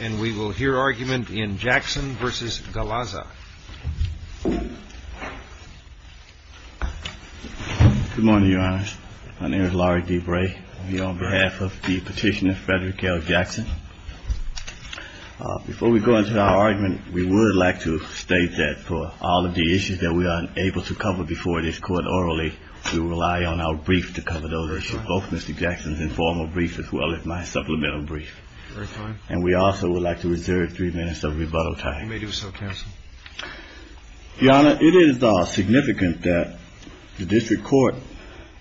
and we will hear argument in Jackson v. Galaza. Good morning, Your Honors. My name is Larry D. Bray. I'm here on behalf of the petitioner, Frederick L. Jackson. Before we go into our argument, we would like to state that for all of the issues that we are unable to cover before this Court orally, we rely on our brief to cover those issues, both Mr. Jackson's informal brief as well as my supplemental brief. And we also would like to reserve three minutes of rebuttal time. You may do so, counsel. Your Honor, it is significant that the district court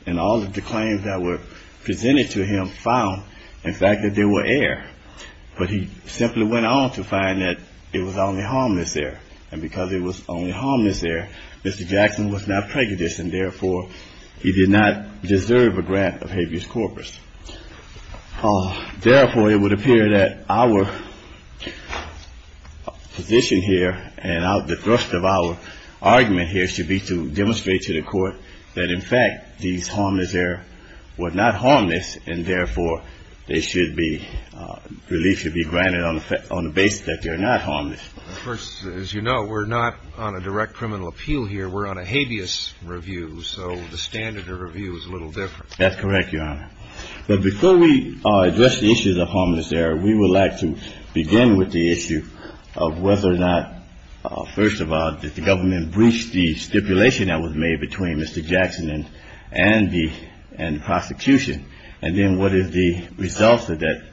and all of the claims that were presented to him found, in fact, that they were air. But he simply went on to find that it was only harmless air. And because it was only harmless air, Mr. Jackson was not prejudiced and, therefore, he did not deserve a grant of habeas corpus. Therefore, it would appear that our position here and the thrust of our argument here should be to demonstrate to the Court that, in fact, these harmless air were not harmless and, therefore, they should be released, should be granted on the basis that they are not harmless. First, as you know, we're not on a direct criminal appeal here. We're on a habeas review. So the standard of review is a little different. That's correct, Your Honor. But before we address the issues of harmless air, we would like to begin with the issue of whether or not, first of all, did the government breach the stipulation that was made between Mr. Jackson and the prosecution? And then what is the result of that,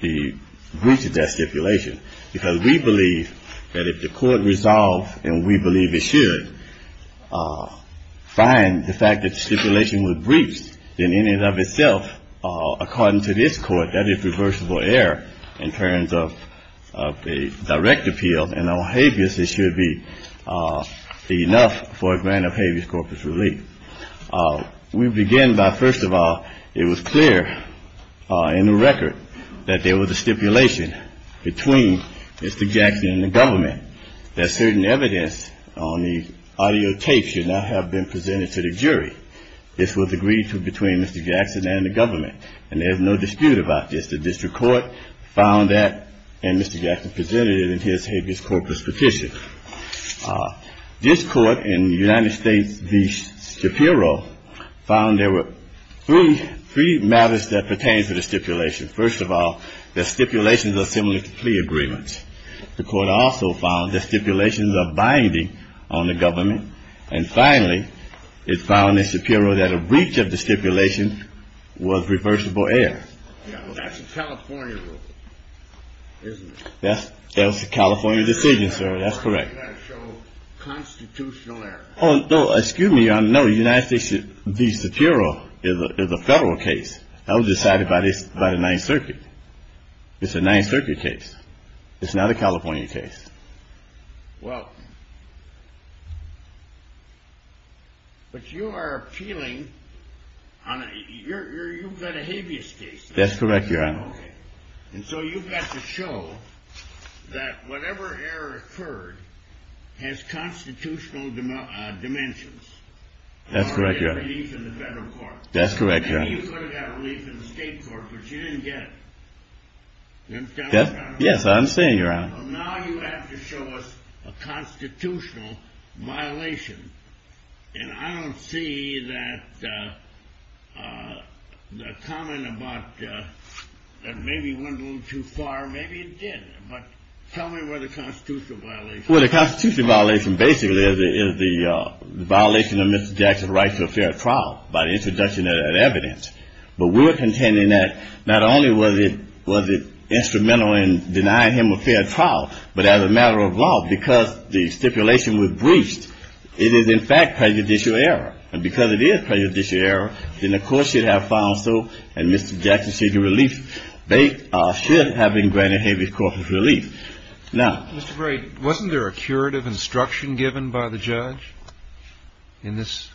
the breach of that stipulation? Because we believe that if the Court resolved, and we believe it should, find the fact that the stipulation was breached, then in and of itself, according to this Court, that is reversible error in terms of a direct appeal. And on habeas, it should be enough for a grant of habeas corpus relief. We begin by, first of all, it was clear in the record that there was a stipulation between Mr. Jackson and the government that certain evidence on the audio tape should not have been presented to the jury. This was agreed to between Mr. Jackson and the government, and there is no dispute about this. The district court found that, and Mr. Jackson presented it in his habeas corpus petition. This Court in the United States v. Shapiro found there were three matters that pertain to the stipulation. First of all, the stipulations are similar to plea agreements. The Court also found the stipulations are binding on the government. And finally, it found in Shapiro that a breach of the stipulation was reversible error. That's a California rule, isn't it? That's a California decision, sir. That's correct. Oh, no, excuse me, Your Honor. No, the United States v. Shapiro is a federal case. That was decided by the Ninth Circuit. It's a Ninth Circuit case. It's not a California case. Well, but you are appealing on a – you've got a habeas case. That's correct, Your Honor. Okay. And so you've got to show that whatever error occurred has constitutional dimensions. That's correct, Your Honor. Or there's a relief in the federal court. That's correct, Your Honor. I mean, you could have got a relief in the state court, but you didn't get it. You understand what I'm trying to say? Yes, I understand, Your Honor. Well, now you have to show us a constitutional violation. And I don't see that the comment about it maybe went a little too far. Maybe it did, but tell me where the constitutional violation is. Well, the constitutional violation basically is the violation of Mr. Jackson's right to a fair trial by the introduction of that evidence. But we're contending that not only was it instrumental in denying him a fair trial, but as a matter of law, because the stipulation was breached, it is in fact prejudicial error. And because it is prejudicial error, then the court should have found so, and Mr. Jackson should have been granted habeas corpus relief. Now… Mr. Gray, wasn't there a curative instruction given by the judge in this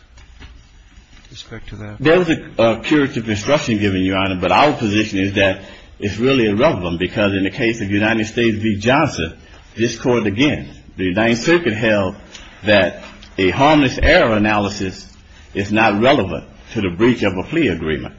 respect to that? There was a curative instruction given, Your Honor, but our position is that it's really irrelevant because in the case of United States v. Johnson, this court, again, the United States Circuit held that a harmless error analysis is not relevant to the breach of a plea agreement,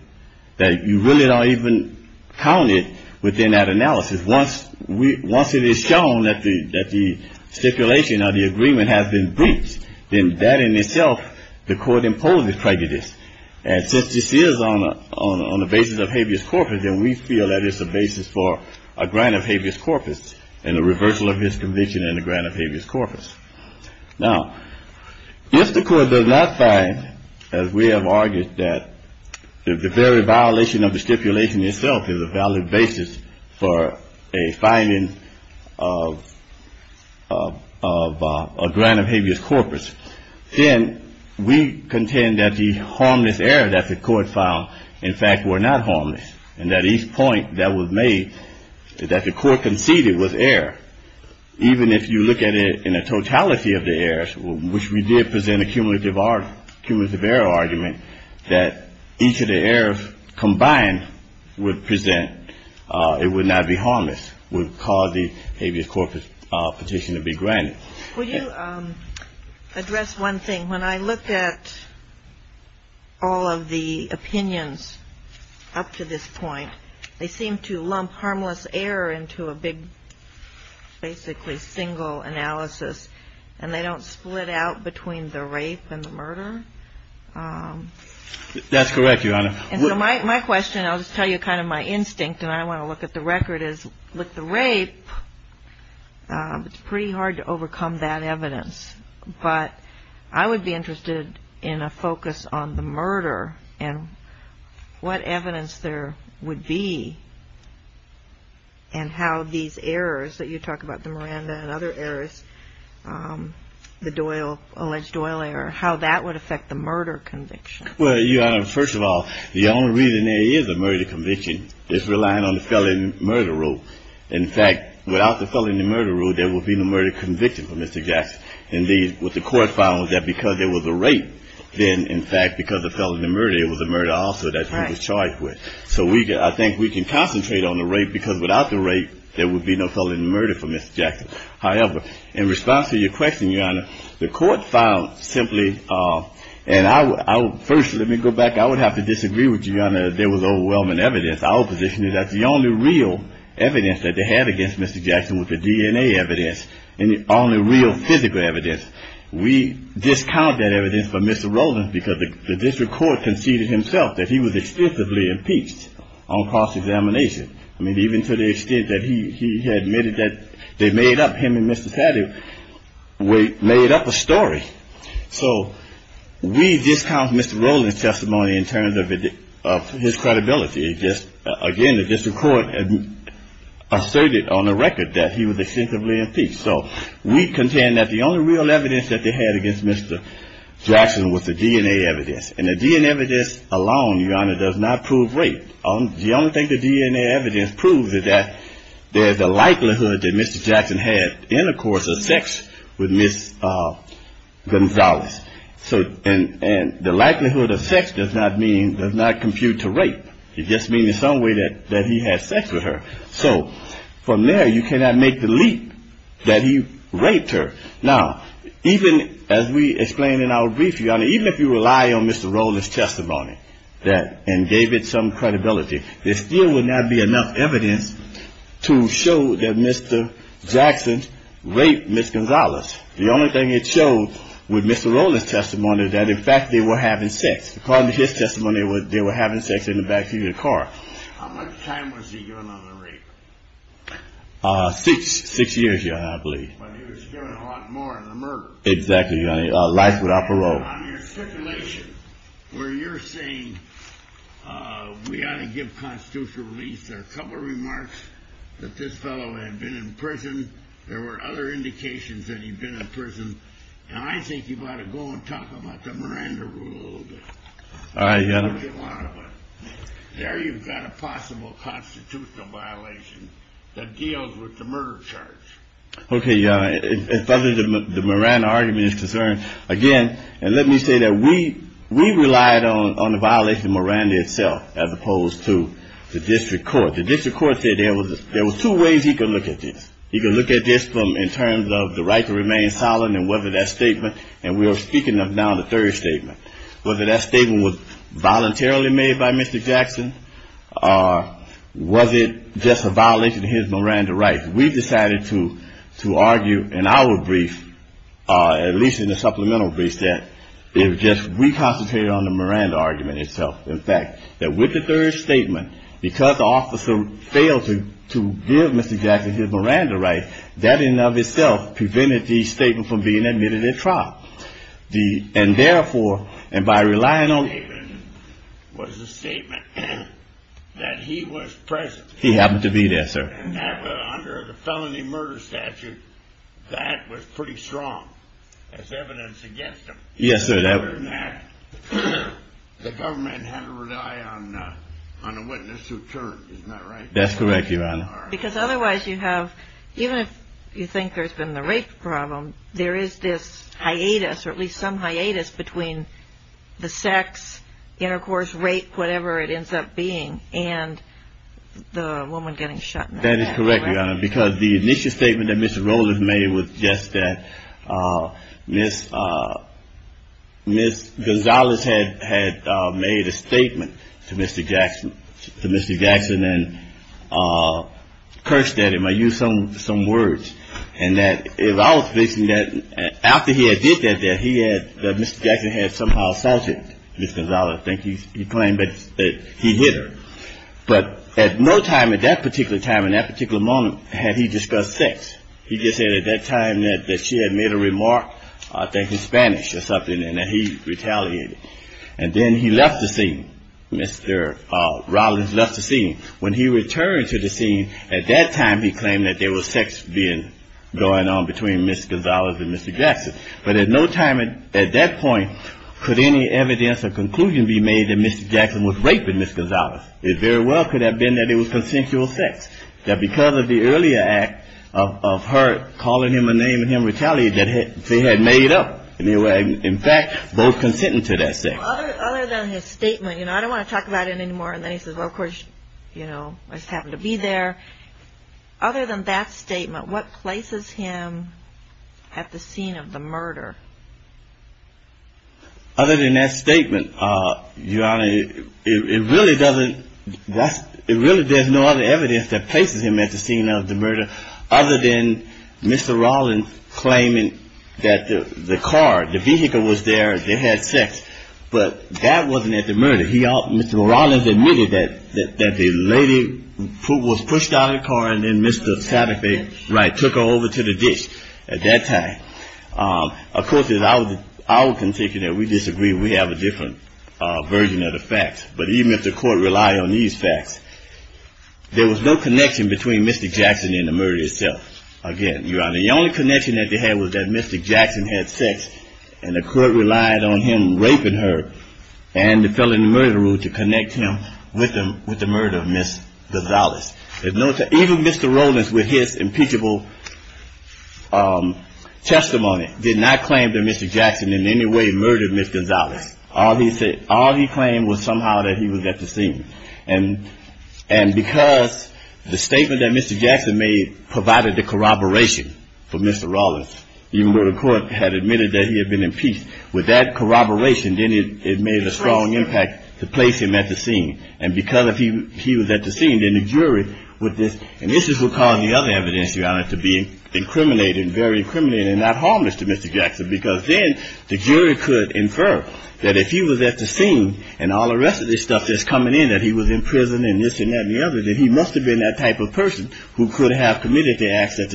that you really don't even count it within that analysis. Once it is shown that the stipulation of the agreement has been breached, then that in itself, the court imposes prejudice. And since this is on the basis of habeas corpus, then we feel that it's a basis for a grant of habeas corpus and a reversal of his conviction and a grant of habeas corpus. Now, if the court does not find, as we have argued, that the very violation of the stipulation itself is a valid basis for a finding of a grant of habeas corpus, then we contend that the harmless error that the court found, in fact, were not harmless, and that each point that was made that the court conceded was error. Even if you look at it in a totality of the errors, which we did present a cumulative error argument, that each of the errors combined would present… it would not be harmless, would cause the habeas corpus petition to be granted. Would you address one thing? When I looked at all of the opinions up to this point, they seem to lump harmless error into a big basically single analysis, and they don't split out between the rape and the murder. That's correct, Your Honor. And so my question, I'll just tell you kind of my instinct, and I want to look at the record, is with the rape, it's pretty hard to overcome that evidence. But I would be interested in a focus on the murder and what evidence there would be and how these errors that you talk about, the Miranda and other errors, the Doyle, alleged Doyle error, how that would affect the murder conviction. Well, Your Honor, first of all, the only reason there is a murder conviction is relying on the felony murder rule. In fact, without the felony murder rule, there would be no murder conviction for Mr. Jackson. And what the court found was that because there was a rape, then, in fact, because of felony murder, it was a murder also that he was charged with. So I think we can concentrate on the rape because without the rape, there would be no felony murder for Mr. Jackson. However, in response to your question, Your Honor, the court found simply, and first, let me go back, I would have to disagree with you, Your Honor, there was overwhelming evidence. Our position is that the only real evidence that they had against Mr. Jackson was the DNA evidence, and the only real physical evidence. We discount that evidence for Mr. Roland because the district court conceded himself that he was extensively impeached on cross-examination. I mean, even to the extent that he admitted that they made up him and Mr. Sadler made up a story. So we discount Mr. Roland's testimony in terms of his credibility. Again, the district court asserted on the record that he was extensively impeached. So we contend that the only real evidence that they had against Mr. Jackson was the DNA evidence. And the DNA evidence alone, Your Honor, does not prove rape. The only thing the DNA evidence proves is that there's a likelihood that Mr. Jackson had intercourse or sex with Ms. Gonzalez. And the likelihood of sex does not compute to rape. It just means in some way that he had sex with her. So from there, you cannot make the leap that he raped her. Now, even as we explained in our brief, Your Honor, even if you rely on Mr. Roland's testimony and gave it some credibility, there still would not be enough evidence to show that Mr. Jackson raped Ms. Gonzalez. The only thing it showed with Mr. Roland's testimony is that, in fact, they were having sex. According to his testimony, they were having sex in the back seat of the car. How much time was he given on the rape? Six years, Your Honor, I believe. But he was given a lot more in the murder. Exactly, Your Honor. Life without parole. On your stipulation, where you're saying we ought to give constitutional release, there are a couple of remarks that this fellow had been in prison. There were other indications that he'd been in prison. And I think you ought to go and talk about the Miranda Rule a little bit. All right, Your Honor. There you've got a possible constitutional violation that deals with the murder charge. Okay, Your Honor. As far as the Miranda argument is concerned, again, and let me say that we relied on the violation of Miranda itself as opposed to the district court. The district court said there was two ways he could look at this. He could look at this in terms of the right to remain silent and whether that statement, and we are speaking of now the third statement, whether that statement was voluntarily made by Mr. Jackson or was it just a violation of his Miranda rights. We decided to argue in our brief, at least in the supplemental brief, that it was just we concentrated on the Miranda argument itself. In fact, that with the third statement, because the officer failed to give Mr. Jackson his Miranda rights, that in and of itself prevented the statement from being admitted at trial. And therefore, and by relying on The statement was a statement that he was present. He happened to be there, sir. And under the felony murder statute, that was pretty strong as evidence against him. Yes, sir. The government had to rely on a witness who turned, isn't that right? That's correct, Your Honor. Because otherwise you have, even if you think there's been the rape problem, there is this hiatus or at least some hiatus between the sex, intercourse, rape, whatever it ends up being, and the woman getting shot in the head. That is correct, Your Honor. Because the initial statement that Mr. Rollins made was just that Ms. Gonzales had made a statement to Mr. Jackson. Mr. Jackson then cursed at him. I used some words. And that if I was fixing that, after he had did that, that he had, that Mr. Jackson had somehow sanctioned Ms. Gonzales. I think he claimed that he hit her. But at no time at that particular time, in that particular moment, had he discussed sex. He just said at that time that she had made a remark, I think in Spanish or something, and that he retaliated. And then he left the scene. Mr. Rollins left the scene. When he returned to the scene, at that time he claimed that there was sex going on between Ms. Gonzales and Mr. Jackson. But at no time at that point could any evidence or conclusion be made that Mr. Jackson was raping Ms. Gonzales. It very well could have been that it was consensual sex. That because of the earlier act of her calling him a name and him retaliating, that she had made up. In fact, both consented to that sex. Other than his statement, you know, I don't want to talk about it anymore. And then he says, well, of course, you know, I just happened to be there. Other than that statement, what places him at the scene of the murder? Other than that statement, Your Honor, it really doesn't, it really there's no other evidence that places him at the scene of the murder other than Mr. Rollins claiming that the car, the vehicle was there, they had sex. Mr. Rollins admitted that the lady who was pushed out of the car and then Mr. Satterthwaite took her over to the dish at that time. Of course, I would continue that we disagree. We have a different version of the facts. But even if the court relied on these facts, there was no connection between Mr. Jackson and the murder itself. Again, Your Honor, the only connection that they had was that Mr. Jackson had sex and the court relied on him raping her. And it fell in the murder rule to connect him with the murder of Ms. Gonzalez. Even Mr. Rollins with his impeachable testimony did not claim that Mr. Jackson in any way murdered Ms. Gonzalez. All he claimed was somehow that he was at the scene. And because the statement that Mr. Jackson made provided the corroboration for Mr. Rollins, even though the court had admitted that he had been impeached, with that corroboration, then it made a strong impact to place him at the scene. And because if he was at the scene, then the jury with this, and this is what caused the other evidence, Your Honor, to be incriminating, very incriminating and not harmless to Mr. Jackson. Because then the jury could infer that if he was at the scene and all the rest of this stuff that's coming in, that he was in prison and this and that and the other, that he must have been that type of person who could have committed the acts that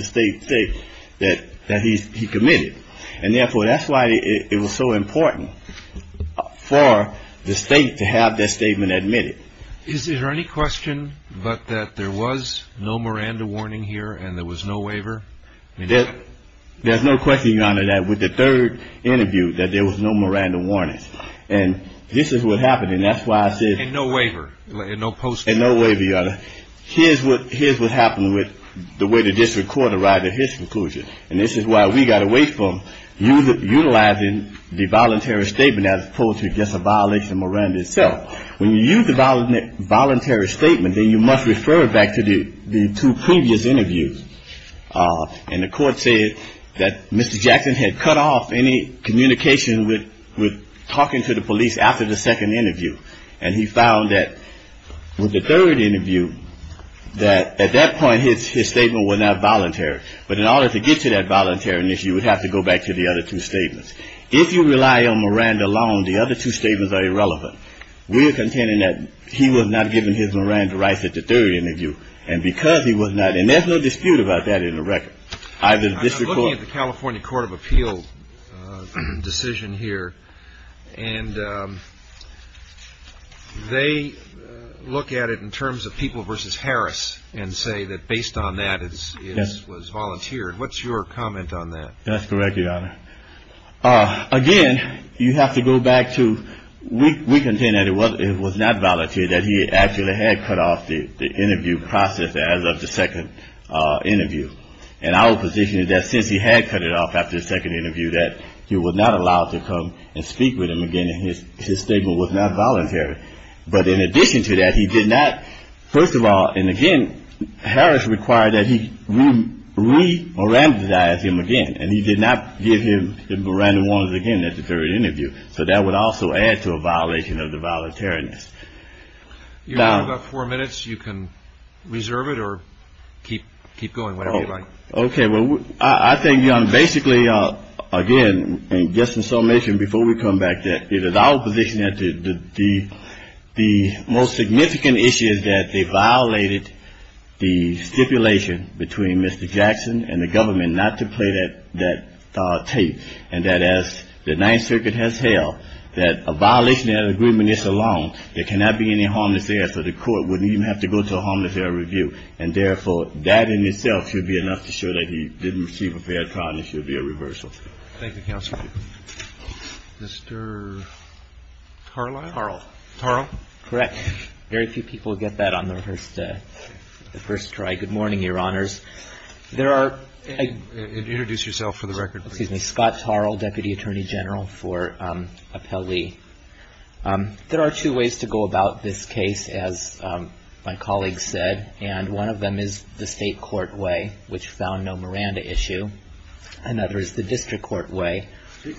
he committed. And therefore, that's why it was so important for the state to have that statement admitted. Is there any question but that there was no Miranda warning here and there was no waiver? There's no question, Your Honor, that with the third interview that there was no Miranda warnings. And this is what happened. And that's why I said. And no waiver. And no post-mortem. And no waiver, Your Honor. Here's what happened with the way the district court arrived at his conclusion. And this is why we got away from utilizing the voluntary statement as opposed to just a violation of Miranda itself. When you use the voluntary statement, then you must refer it back to the two previous interviews. And the court said that Mr. Jackson had cut off any communication with talking to the police after the second interview. And he found that with the third interview that at that point his statement was not voluntary. But in order to get to that voluntary issue, you would have to go back to the other two statements. If you rely on Miranda alone, the other two statements are irrelevant. We are contending that he was not given his Miranda rights at the third interview. And because he was not. And there's no dispute about that in the record. I'm looking at the California Court of Appeal decision here. And they look at it in terms of people versus Harris and say that based on that it was volunteered. What's your comment on that? That's correct, Your Honor. Again, you have to go back to we contend that it was not voluntary, that he actually had cut off the interview process as of the second interview. And our position is that since he had cut it off after the second interview, that he was not allowed to come and speak with him again. And his statement was not voluntary. But in addition to that, he did not. First of all, and again, Harris required that he re-Miranda-ized him again. And he did not give him the Miranda ones again at the third interview. So that would also add to a violation of the voluntariness. You have about four minutes. You can reserve it or keep going whenever you like. Okay. Well, I think, Your Honor, basically, again, just in summation, before we come back, that it is our position that the most significant issue is that they violated the stipulation between Mr. Jackson and the government not to play that tape. And that as the Ninth Circuit has held, that a violation of that agreement is a loan. There cannot be any harmless error, so the court wouldn't even have to go to a harmless error review. And therefore, that in itself should be enough to show that he didn't receive a fair trial and there should be a reversal. Thank you, Counsel. Mr. Tarl? Tarl. Tarl. Correct. Very few people get that on the first try. Good morning, Your Honors. There are – Introduce yourself for the record, please. Excuse me. Scott Tarl, Deputy Attorney General for Appellee. There are two ways to go about this case, as my colleague said, and one of them is the state court way, which found no Miranda issue. Another is the district court way,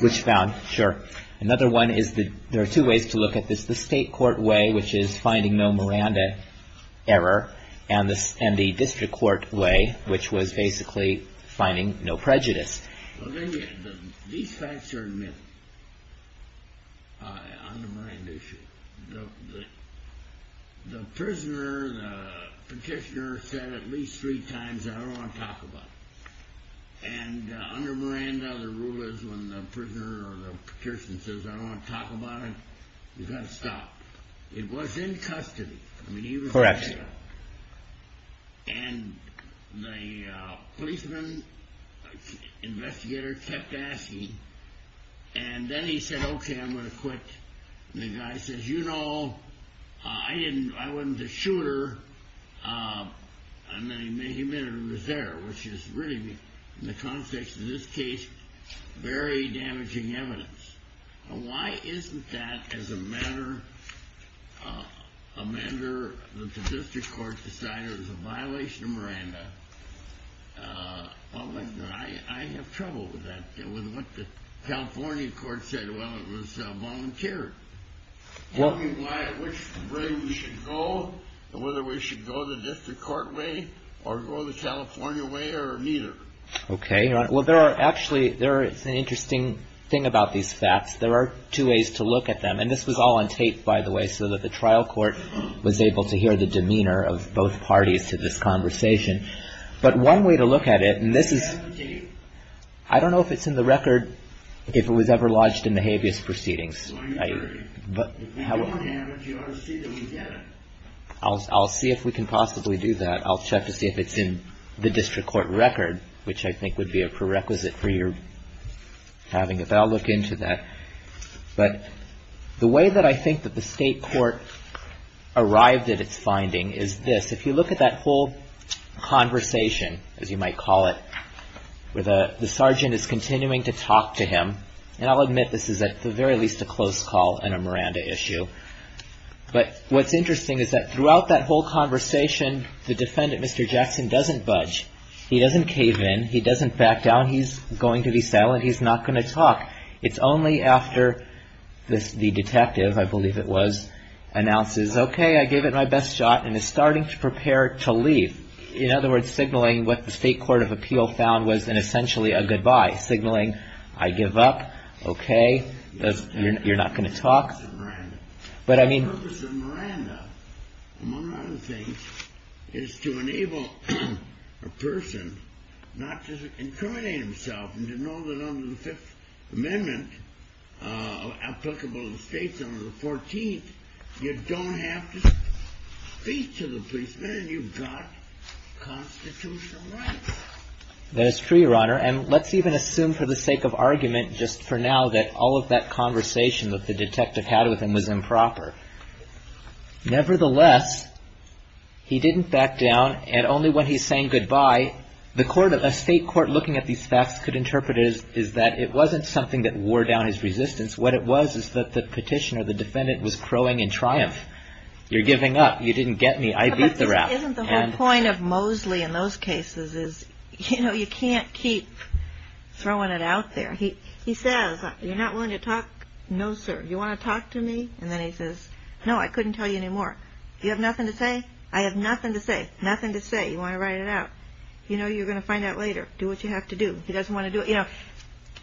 which found – Sure. Another one is the – there are two ways to look at this. The state court way, which is finding no Miranda error, and the district court way, which was basically finding no prejudice. These facts are admissible on the Miranda issue. The prisoner, the petitioner, said at least three times, I don't want to talk about it. And under Miranda, the rule is when the prisoner or the petitioner says, I don't want to talk about it, you've got to stop. It was in custody. Correct. And the policeman, investigator, kept asking, and then he said, okay, I'm going to quit. And the guy says, you know, I didn't – I wasn't the shooter. And then he admitted he was there, which is really, in the context of this case, very damaging evidence. Why isn't that as a matter – a matter that the district court decided was a violation of Miranda? I have trouble with that, with what the California court said while it was volunteered. Tell me which way we should go, whether we should go the district court way or go the California way or neither. Okay. Well, there are actually – it's an interesting thing about these facts. There are two ways to look at them. And this was all on tape, by the way, so that the trial court was able to hear the demeanor of both parties to this conversation. But one way to look at it, and this is – I don't know if it's in the record, if it was ever lodged in the habeas proceedings. I'll see if we can possibly do that. I'll check to see if it's in the district court record, which I think would be a prerequisite for your having it. But I'll look into that. But the way that I think that the state court arrived at its finding is this. If you look at that whole conversation, as you might call it, where the sergeant is continuing to talk to him – and I'll admit this is at the very least a close call and a Miranda issue. But what's interesting is that throughout that whole conversation, the defendant, Mr. Jackson, doesn't budge. He doesn't cave in. He doesn't back down. He's going to be silent. He's not going to talk. It's only after the detective, I believe it was, announces, okay, I gave it my best shot and is starting to prepare to leave. In other words, signaling what the state court of appeal found was essentially a goodbye, signaling I give up, okay, you're not going to talk. The purpose of Miranda, among other things, is to enable a person not to incriminate himself and to know that under the Fifth Amendment applicable to the states, under the 14th, you don't have to speak to the policeman and you've got constitutional rights. That is true, Your Honor. And let's even assume for the sake of argument just for now that all of that conversation that the detective had with him was improper. Nevertheless, he didn't back down and only when he's saying goodbye, a state court looking at these facts could interpret it as that it wasn't something that wore down his resistance. What it was is that the petitioner, the defendant, was crowing in triumph. You're giving up. You didn't get me. I beat the rap. Isn't the whole point of Mosley in those cases is, you know, you can't keep throwing it out there. He says, you're not willing to talk. No, sir. You want to talk to me? And then he says, no, I couldn't tell you anymore. You have nothing to say. I have nothing to say. Nothing to say. You want to write it out. You know, you're going to find out later. Do what you have to do. He doesn't want to do it. You know,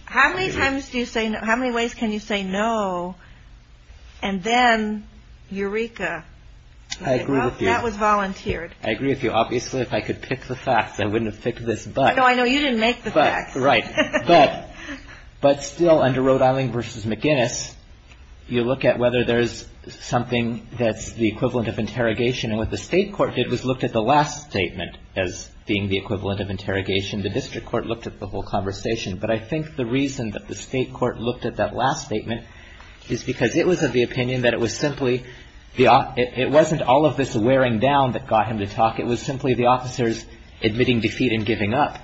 how many times do you say no? How many ways can you say no? And then Eureka. I agree with you. That was volunteered. I agree with you. Obviously, if I could pick the facts, I wouldn't have picked this. No, I know. You didn't make the facts. Right. But still, under Rhode Island v. McInnes, you look at whether there's something that's the equivalent of interrogation. And what the state court did was looked at the last statement as being the equivalent of interrogation. The district court looked at the whole conversation. But I think the reason that the state court looked at that last statement is because it was of the opinion that it was simply the It wasn't all of this wearing down that got him to talk. It was simply the officers admitting defeat and giving up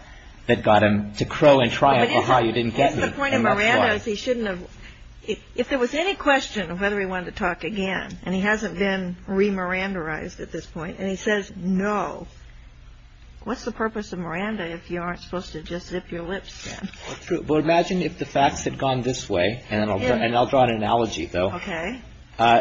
that got him to crow and triumph. Aha, you didn't get me. That's the point of Miranda is he shouldn't have If there was any question of whether he wanted to talk again, and he hasn't been re-Miranda-ized at this point, and he says no, What's the purpose of Miranda if you aren't supposed to just zip your lips? Well, imagine if the facts had gone this way, and I'll draw an analogy, though. Okay.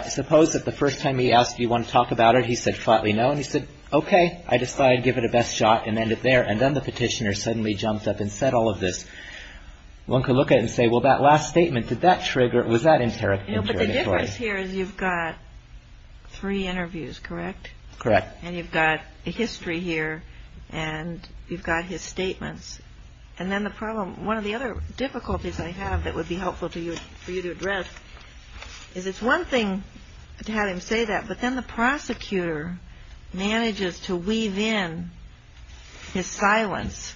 Suppose that the first time he asked, do you want to talk about it? He said, flatly, no. And he said, okay. I decided to give it a best shot and end it there. And then the petitioner suddenly jumped up and said all of this. One could look at it and say, well, that last statement, did that trigger, was that interrogatory? No, but the difference here is you've got three interviews, correct? Correct. And you've got a history here, and you've got his statements. And then the problem, one of the other difficulties I have that would be helpful for you to address is it's one thing to have him say that, but then the prosecutor manages to weave in his silence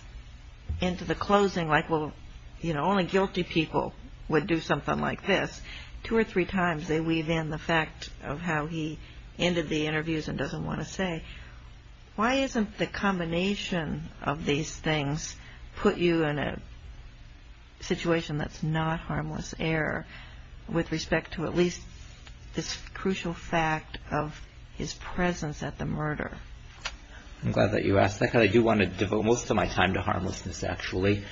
into the closing, like, well, you know, only guilty people would do something like this. Two or three times they weave in the fact of how he ended the interviews and doesn't want to say. Why isn't the combination of these things put you in a situation that's not harmless error with respect to at least this crucial fact of his presence at the murder? I'm glad that you asked that, because I do want to devote most of my time to harmlessness, actually.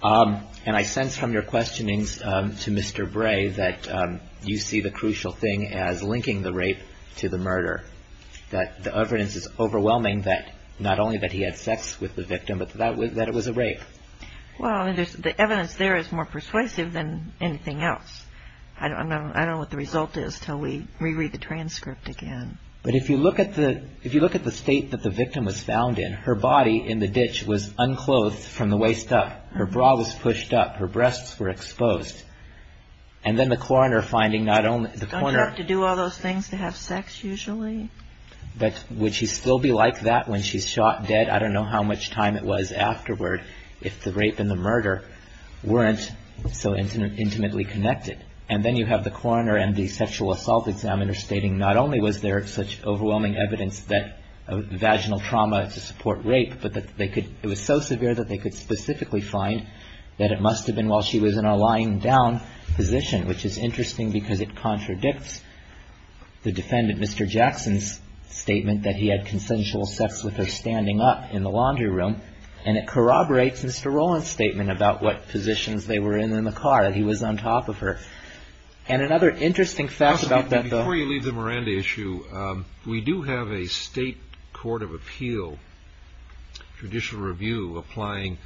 And I sense from your questionings to Mr. Bray that you see the crucial thing as linking the rape to the murder, that the evidence is overwhelming that not only that he had sex with the victim, but that it was a rape. Well, the evidence there is more persuasive than anything else. I don't know what the result is until we reread the transcript again. But if you look at the state that the victim was found in, her body in the ditch was unclothed from the waist up. Her bra was pushed up. Her breasts were exposed. And then the coroner finding not only the coroner... Don't you have to do all those things to have sex usually? But would she still be like that when she's shot dead? I don't know how much time it was afterward if the rape and the murder weren't so intimately connected. And then you have the coroner and the sexual assault examiner stating not only was there such overwhelming evidence of vaginal trauma to support rape, but it was so severe that they could specifically find that it must have been while she was in a lying down position, which is interesting because it contradicts the defendant, Mr. Jackson's statement that he had consensual sex with her standing up in the laundry room. And it corroborates Mr. Rowland's statement about what positions they were in in the car, that he was on top of her. And another interesting fact about that, though... Before you leave the Miranda issue, we do have a state court of appeal, judicial review, applying,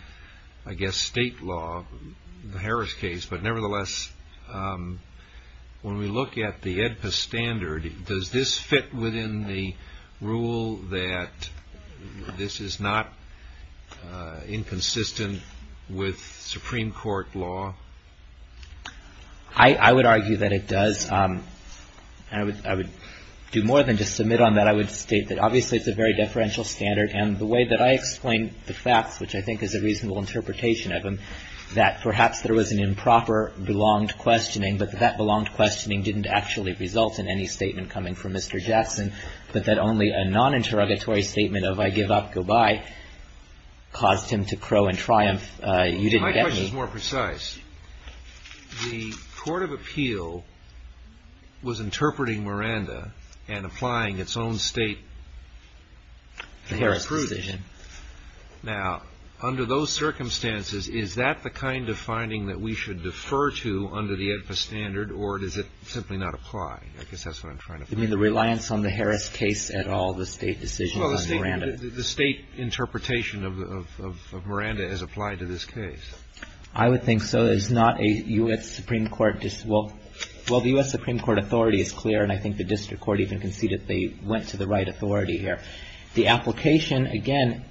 I guess, state law, the Harris case. But nevertheless, when we look at the AEDPA standard, does this fit within the rule that this is not inconsistent with Supreme Court law? I would argue that it does. I would do more than just submit on that. I would state that obviously it's a very deferential standard. And the way that I explain the facts, which I think is a reasonable interpretation of them, is that perhaps there was an improper belonged questioning, but that that belonged questioning didn't actually result in any statement coming from Mr. Jackson, but that only a non-interrogatory statement of, I give up, go bye, caused him to crow and triumph. You didn't get me. My question is more precise. The court of appeal was interpreting Miranda and applying its own state... The Harris decision. Now, under those circumstances, is that the kind of finding that we should defer to under the AEDPA standard, or does it simply not apply? I guess that's what I'm trying to find out. You mean the reliance on the Harris case at all, the state decision on Miranda? Well, the state interpretation of Miranda has applied to this case. I would think so. There's not a U.S. Supreme Court. Well, the U.S. Supreme Court authority is clear, and I think the district court even conceded they went to the right authority here. The application, again,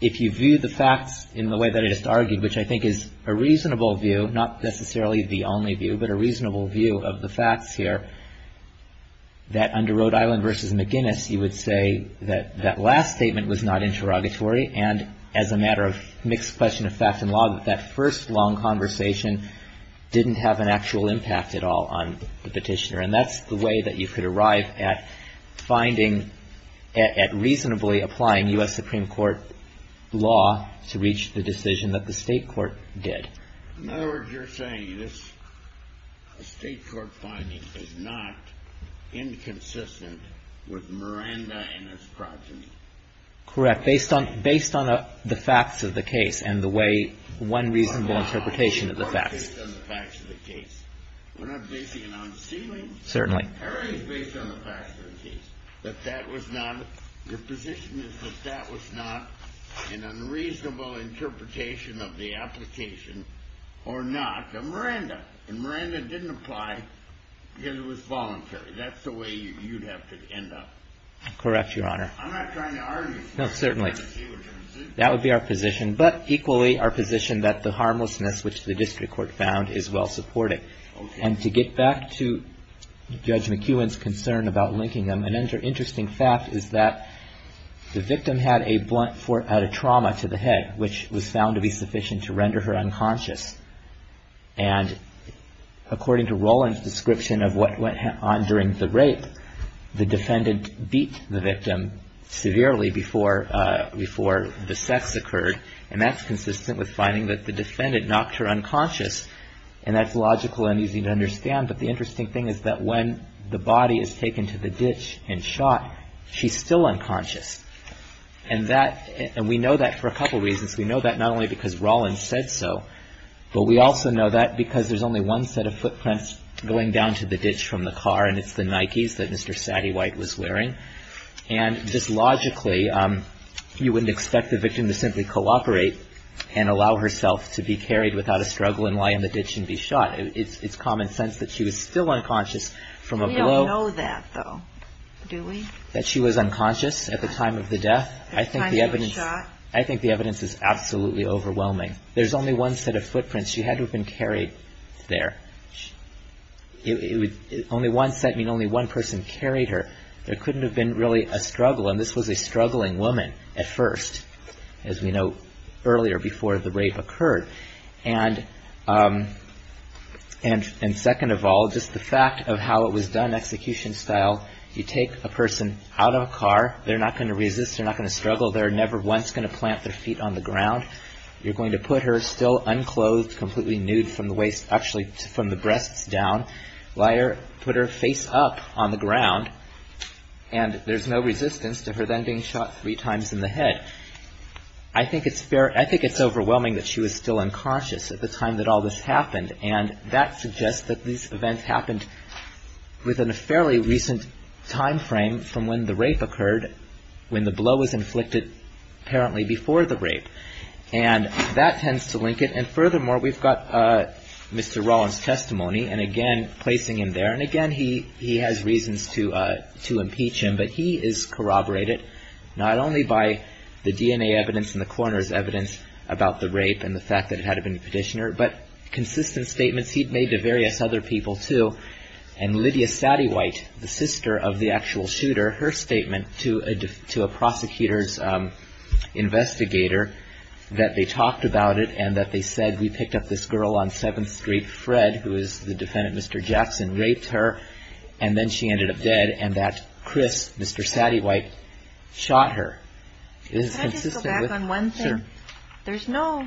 if you view the facts in the way that I just argued, which I think is a reasonable view, not necessarily the only view, but a reasonable view of the facts here, that under Rhode Island v. McGuinness, you would say that that last statement was not interrogatory, and as a matter of mixed question of fact and law, that that first long conversation didn't have an actual impact at all on the petitioner. And that's the way that you could arrive at finding at reasonably applying U.S. Supreme Court law to reach the decision that the state court did. In other words, you're saying this state court finding is not inconsistent with Miranda and his progeny. Correct. Based on the facts of the case and the way one reasonable interpretation of the facts. We're not basing it on ceiling. Certainly. Our argument is based on the facts of the case. Your position is that that was not an unreasonable interpretation of the application or not. Miranda didn't apply because it was voluntary. That's the way you'd have to end up. Correct, Your Honor. I'm not trying to argue. No, certainly. That would be our position. But equally, our position that the harmlessness which the district court found is well supported. And to get back to Judge McEwen's concern about linking them, an interesting fact is that the victim had a blunt trauma to the head, which was found to be sufficient to render her unconscious. And according to Roland's description of what went on during the rape, the defendant beat the victim severely before the sex occurred. And that's consistent with finding that the defendant knocked her unconscious. And that's logical and easy to understand. But the interesting thing is that when the body is taken to the ditch and shot, she's still unconscious. And we know that for a couple reasons. We know that not only because Roland said so, but we also know that because there's only one set of footprints going down to the ditch from the car, and it's the Nikes that Mr. Saddy White was wearing. And just logically, you wouldn't expect the victim to simply cooperate and allow herself to be carried without a struggle and lie in the ditch and be shot. It's common sense that she was still unconscious from a blow. We don't know that, though, do we? That she was unconscious at the time of the death. I think the evidence is absolutely overwhelming. There's only one set of footprints. She had to have been carried there. Only one set means only one person carried her. There couldn't have been really a struggle. And this was a struggling woman at first, as we know, earlier, before the rape occurred. And second of all, just the fact of how it was done, execution style. You take a person out of a car. They're not going to resist. They're not going to struggle. They're never once going to plant their feet on the ground. You're going to put her still unclothed, completely nude from the breast down. Put her face up on the ground. And there's no resistance to her then being shot three times in the head. I think it's overwhelming that she was still unconscious at the time that all this happened. And that suggests that these events happened within a fairly recent timeframe from when the rape occurred, when the blow was inflicted apparently before the rape. And that tends to link it. And furthermore, we've got Mr. Rollins' testimony. And again, placing him there. And again, he has reasons to impeach him. But he is corroborated not only by the DNA evidence and the coroner's evidence about the rape and the fact that it had to have been the petitioner, but consistent statements he'd made to various other people too. And Lydia Satiewhite, the sister of the actual shooter, her statement to a prosecutor's investigator that they talked about it and that they said we picked up this girl on 7th Street. Fred, who is the defendant, Mr. Jackson, raped her. And then she ended up dead. And that Chris, Mr. Satiewhite, shot her. Can I just go back on one thing? Sure. There's no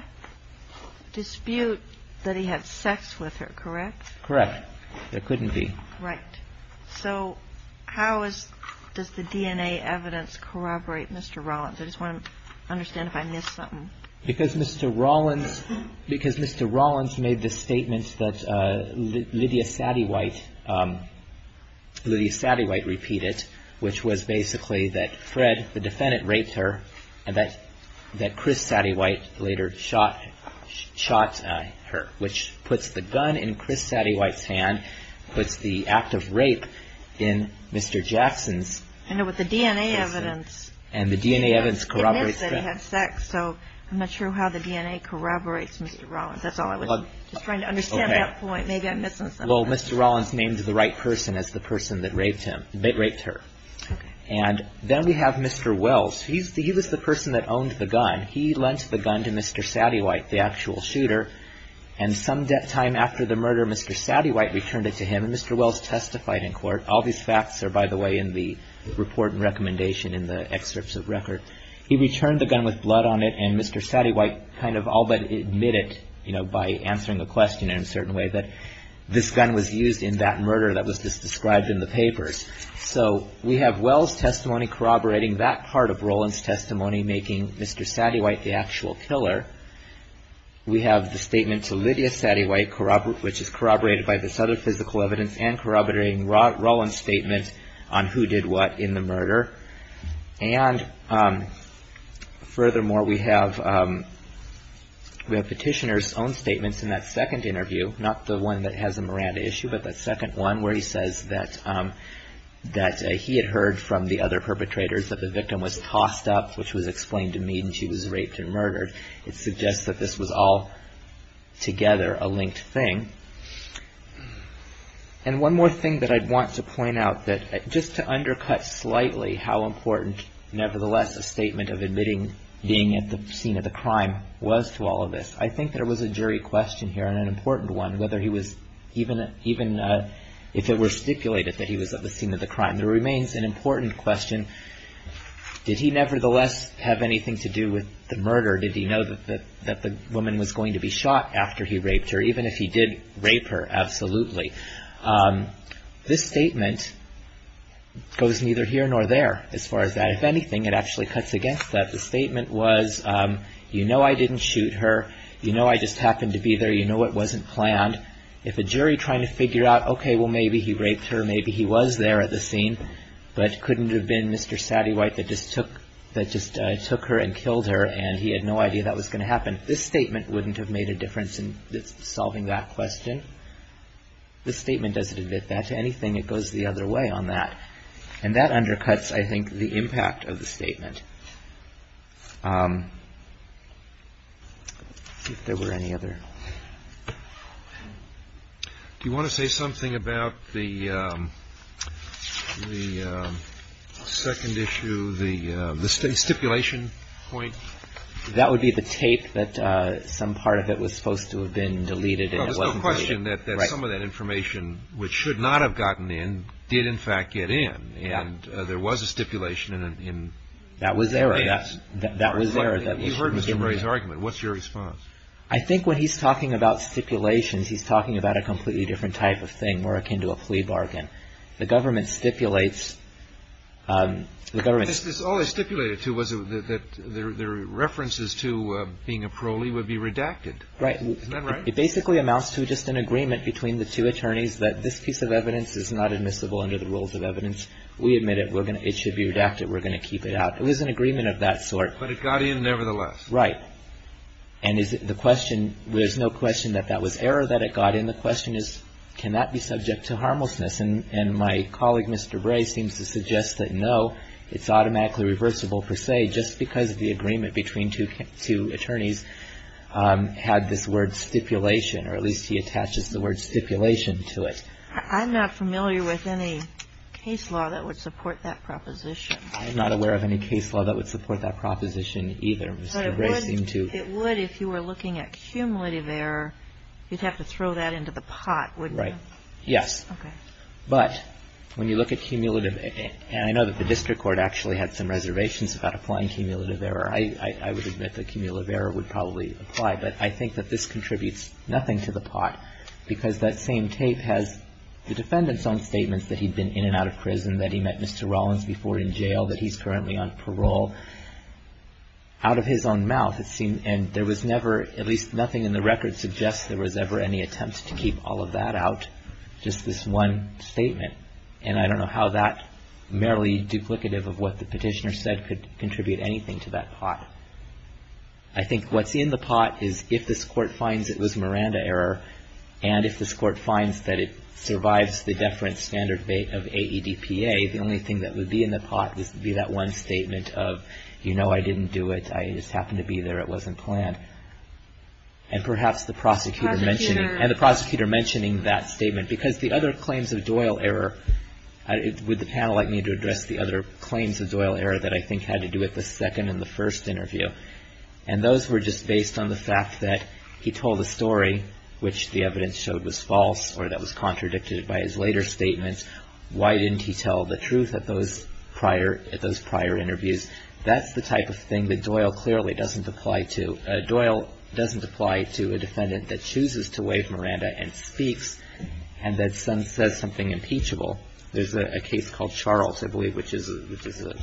dispute that he had sex with her, correct? Correct. There couldn't be. Right. So how does the DNA evidence corroborate Mr. Rollins? I just want to understand if I missed something. Because Mr. Rollins made the statement that Lydia Satiewhite repeated, which was basically that Fred, the defendant, raped her, and that Chris Satiewhite later shot her, which puts the gun in Chris Satiewhite's hand, puts the act of rape in Mr. Jackson's. I know, but the DNA evidence. And the DNA evidence corroborates that. Admits that he had sex. So I'm not sure how the DNA corroborates Mr. Rollins. That's all I was trying to understand at that point. Maybe I'm missing something. Well, Mr. Rollins named the right person as the person that raped her. And then we have Mr. Wells. He was the person that owned the gun. He lent the gun to Mr. Satiewhite, the actual shooter, and some time after the murder Mr. Satiewhite returned it to him, and Mr. Wells testified in court. All these facts are, by the way, in the report and recommendation in the excerpts of record. He returned the gun with blood on it, and Mr. Satiewhite kind of all but admitted, you know, by answering a question in a certain way that this gun was used in that murder that was just described in the papers. So we have Wells' testimony corroborating that part of Rollins' testimony, making Mr. Satiewhite the actual killer. We have the statement to Lydia Satiewhite, which is corroborated by this other physical evidence, and corroborating Rollins' statement on who did what in the murder. And furthermore, we have Petitioner's own statements in that second interview, not the one that has a Miranda issue, but that second one where he says that he had heard from the other perpetrators that the victim was tossed up, which was explained to me, when she was raped and murdered. It suggests that this was all together a linked thing. And one more thing that I'd want to point out, just to undercut slightly how important, nevertheless, a statement of admitting being at the scene of the crime was to all of this. I think there was a jury question here, and an important one, whether he was, even if it were stipulated that he was at the scene of the crime. There remains an important question. Did he, nevertheless, have anything to do with the murder? Did he know that the woman was going to be shot after he raped her, even if he did rape her? Absolutely. This statement goes neither here nor there, as far as that. If anything, it actually cuts against that. The statement was, you know I didn't shoot her. You know I just happened to be there. You know it wasn't planned. If a jury trying to figure out, okay, well, maybe he raped her, maybe he was there at the scene, but couldn't it have been Mr. Sati White that just took her and killed her and he had no idea that was going to happen? This statement wouldn't have made a difference in solving that question. This statement doesn't admit that to anything. It goes the other way on that. And that undercuts, I think, the impact of the statement. If there were any other... Do you want to say something about the second issue, the stipulation point? That would be the tape that some part of it was supposed to have been deleted and it wasn't deleted. Well, there's no question that some of that information, which should not have gotten in, did, in fact, get in. And there was a stipulation in... That was there. You heard Mr. Bray's argument. What's your response? I think when he's talking about stipulations, he's talking about a completely different type of thing, more akin to a plea bargain. The government stipulates... All it stipulated to was that the references to being a prole would be redacted. Right. Isn't that right? It basically amounts to just an agreement between the two attorneys that this piece of evidence is not admissible under the rules of evidence. We admit it. It should be redacted. We're going to keep it out. It was an agreement of that sort. But it got in nevertheless. Right. And the question, there's no question that that was error that it got in. The question is, can that be subject to harmlessness? And my colleague, Mr. Bray, seems to suggest that, no, it's automatically reversible per se, just because the agreement between two attorneys had this word stipulation, or at least he attaches the word stipulation to it. I'm not familiar with any case law that would support that proposition. I'm not aware of any case law that would support that proposition either. It would if you were looking at cumulative error. You'd have to throw that into the pot, wouldn't you? Right. Yes. Okay. But when you look at cumulative error, and I know that the district court actually had some reservations about applying cumulative error. I would admit that cumulative error would probably apply. But I think that this contributes nothing to the pot because that same tape has the defendant's own statements that he'd been in and out of prison, that he met Mr. Rollins before in jail, that he's currently on parole. Out of his own mouth, and there was never, at least nothing in the record suggests there was ever any attempt to keep all of that out, just this one statement. And I don't know how that, merely duplicative of what the petitioner said, could contribute anything to that pot. I think what's in the pot is if this court finds it was Miranda error, and if this court finds that it survives the deference standard of AEDPA, the only thing that has to be that one statement of, you know, I didn't do it. I just happened to be there. It wasn't planned. And perhaps the prosecutor mentioning that statement. Because the other claims of Doyle error, would the panel like me to address the other claims of Doyle error that I think had to do with the second and the first interview? And those were just based on the fact that he told the story, which the evidence showed was false, or that was contradicted by his later statements. Why didn't he tell the truth at those prior interviews? That's the type of thing that Doyle clearly doesn't apply to. Doyle doesn't apply to a defendant that chooses to waive Miranda and speaks, and then says something impeachable. There's a case called Charles, I believe, which is a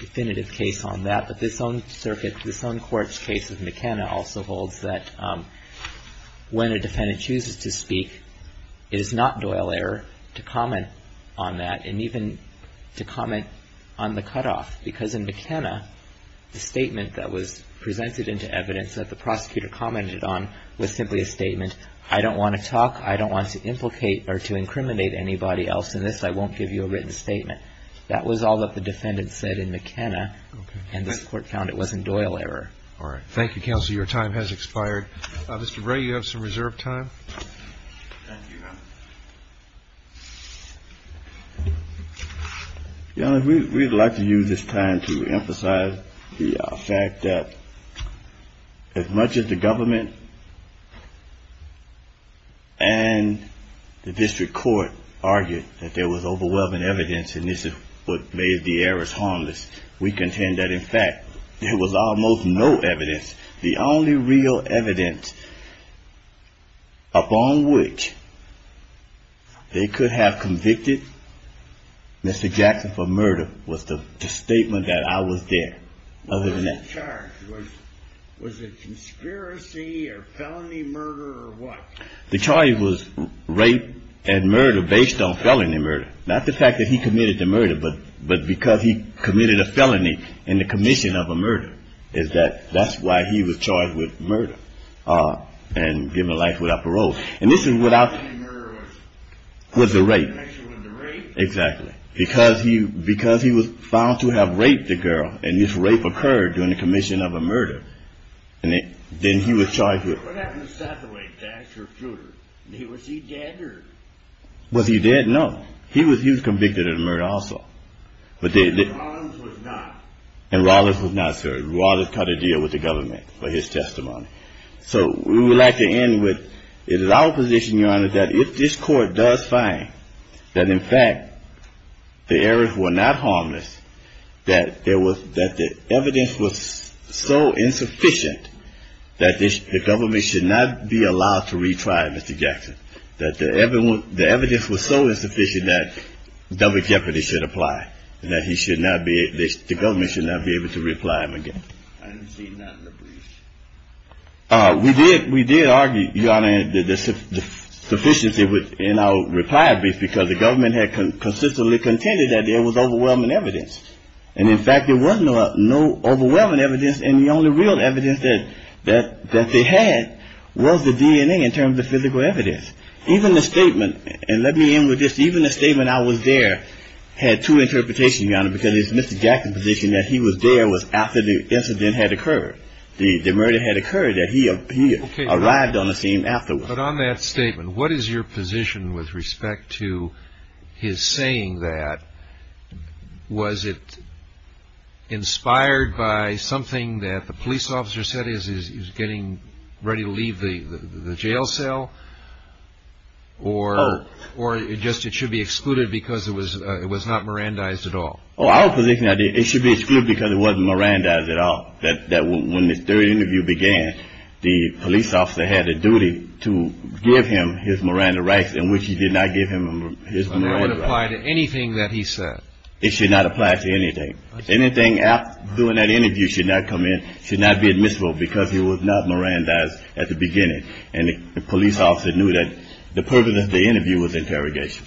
definitive case on that. But this own circuit, this own court's case with McKenna also holds that when a defendant makes a statement, it's not just a statement. And I don't think it's appropriate to comment on that, and even to comment on the cutoff. Because in McKenna, the statement that was presented into evidence that the prosecutor commented on was simply a statement, I don't want to talk, I don't want to implicate or to incriminate anybody else in this. I won't give you a written statement. That was all that the defendant said in McKenna, and this Court found it wasn't true. Your Honor, we would like to use this time to emphasize the fact that as much as the government and the district court argued that there was overwhelming evidence and this is what made the errors harmless, we contend that in fact there was almost no evidence upon which they could have convicted Mr. Jackson for murder was the statement that I was there, other than that. Was he charged? Was it conspiracy or felony murder or what? The charge was rape and murder based on felony murder. Not the fact that he committed the murder, but because he committed a felony in the commission of a murder is that that's why he was charged with murder and given life without parole. And this is without... The felony murder was... Was the rape. Was the connection with the rape? Exactly. Because he was found to have raped the girl and this rape occurred during the commission of a murder, then he was charged with... What happened to Sathaway, Dash, or Fruder? Was he dead or... Was he dead? No. He was convicted of the murder also. But Rollins was not. And Rollins was not served. Rollins had to deal with the government for his testimony. So we would like to end with it is our position, Your Honor, that if this court does find that in fact the errors were not harmless, that the evidence was so insufficient that the government should not be allowed to retry Mr. Jackson. That the evidence was so insufficient that double jeopardy should apply and that he should not be... The government should not be able to reply him again. I haven't seen that in the brief. We did argue, Your Honor, that the sufficiency in our reply brief because the government had consistently contended that there was overwhelming evidence. And in fact there was no overwhelming evidence and the only real evidence that they had was the DNA in terms of physical evidence. Even the statement, and let me end with this, even the statement I was there had two interpretations, Your Honor, because it's Mr. Jackson's position that he was there was after the incident had occurred. The murder had occurred, that he arrived on the scene afterwards. But on that statement, what is your position with respect to his saying that? Was it inspired by something that the police officer said he was getting ready to leave the jail cell? Or just it should be excluded because it was not Mirandized at all? Our position is it should be excluded because it wasn't Mirandized at all. When this third interview began, the police officer had a duty to give him his Miranda rights in which he did not give him his Miranda rights. So that would apply to anything that he said? It should not apply to anything. Anything after doing that interview should not come in, should not be admissible because it was not Mirandized at the beginning. And the police officer knew that the purpose of the interview was interrogation.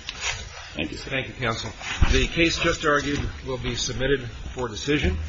Thank you, sir. Thank you, counsel. The case just argued will be submitted for decision.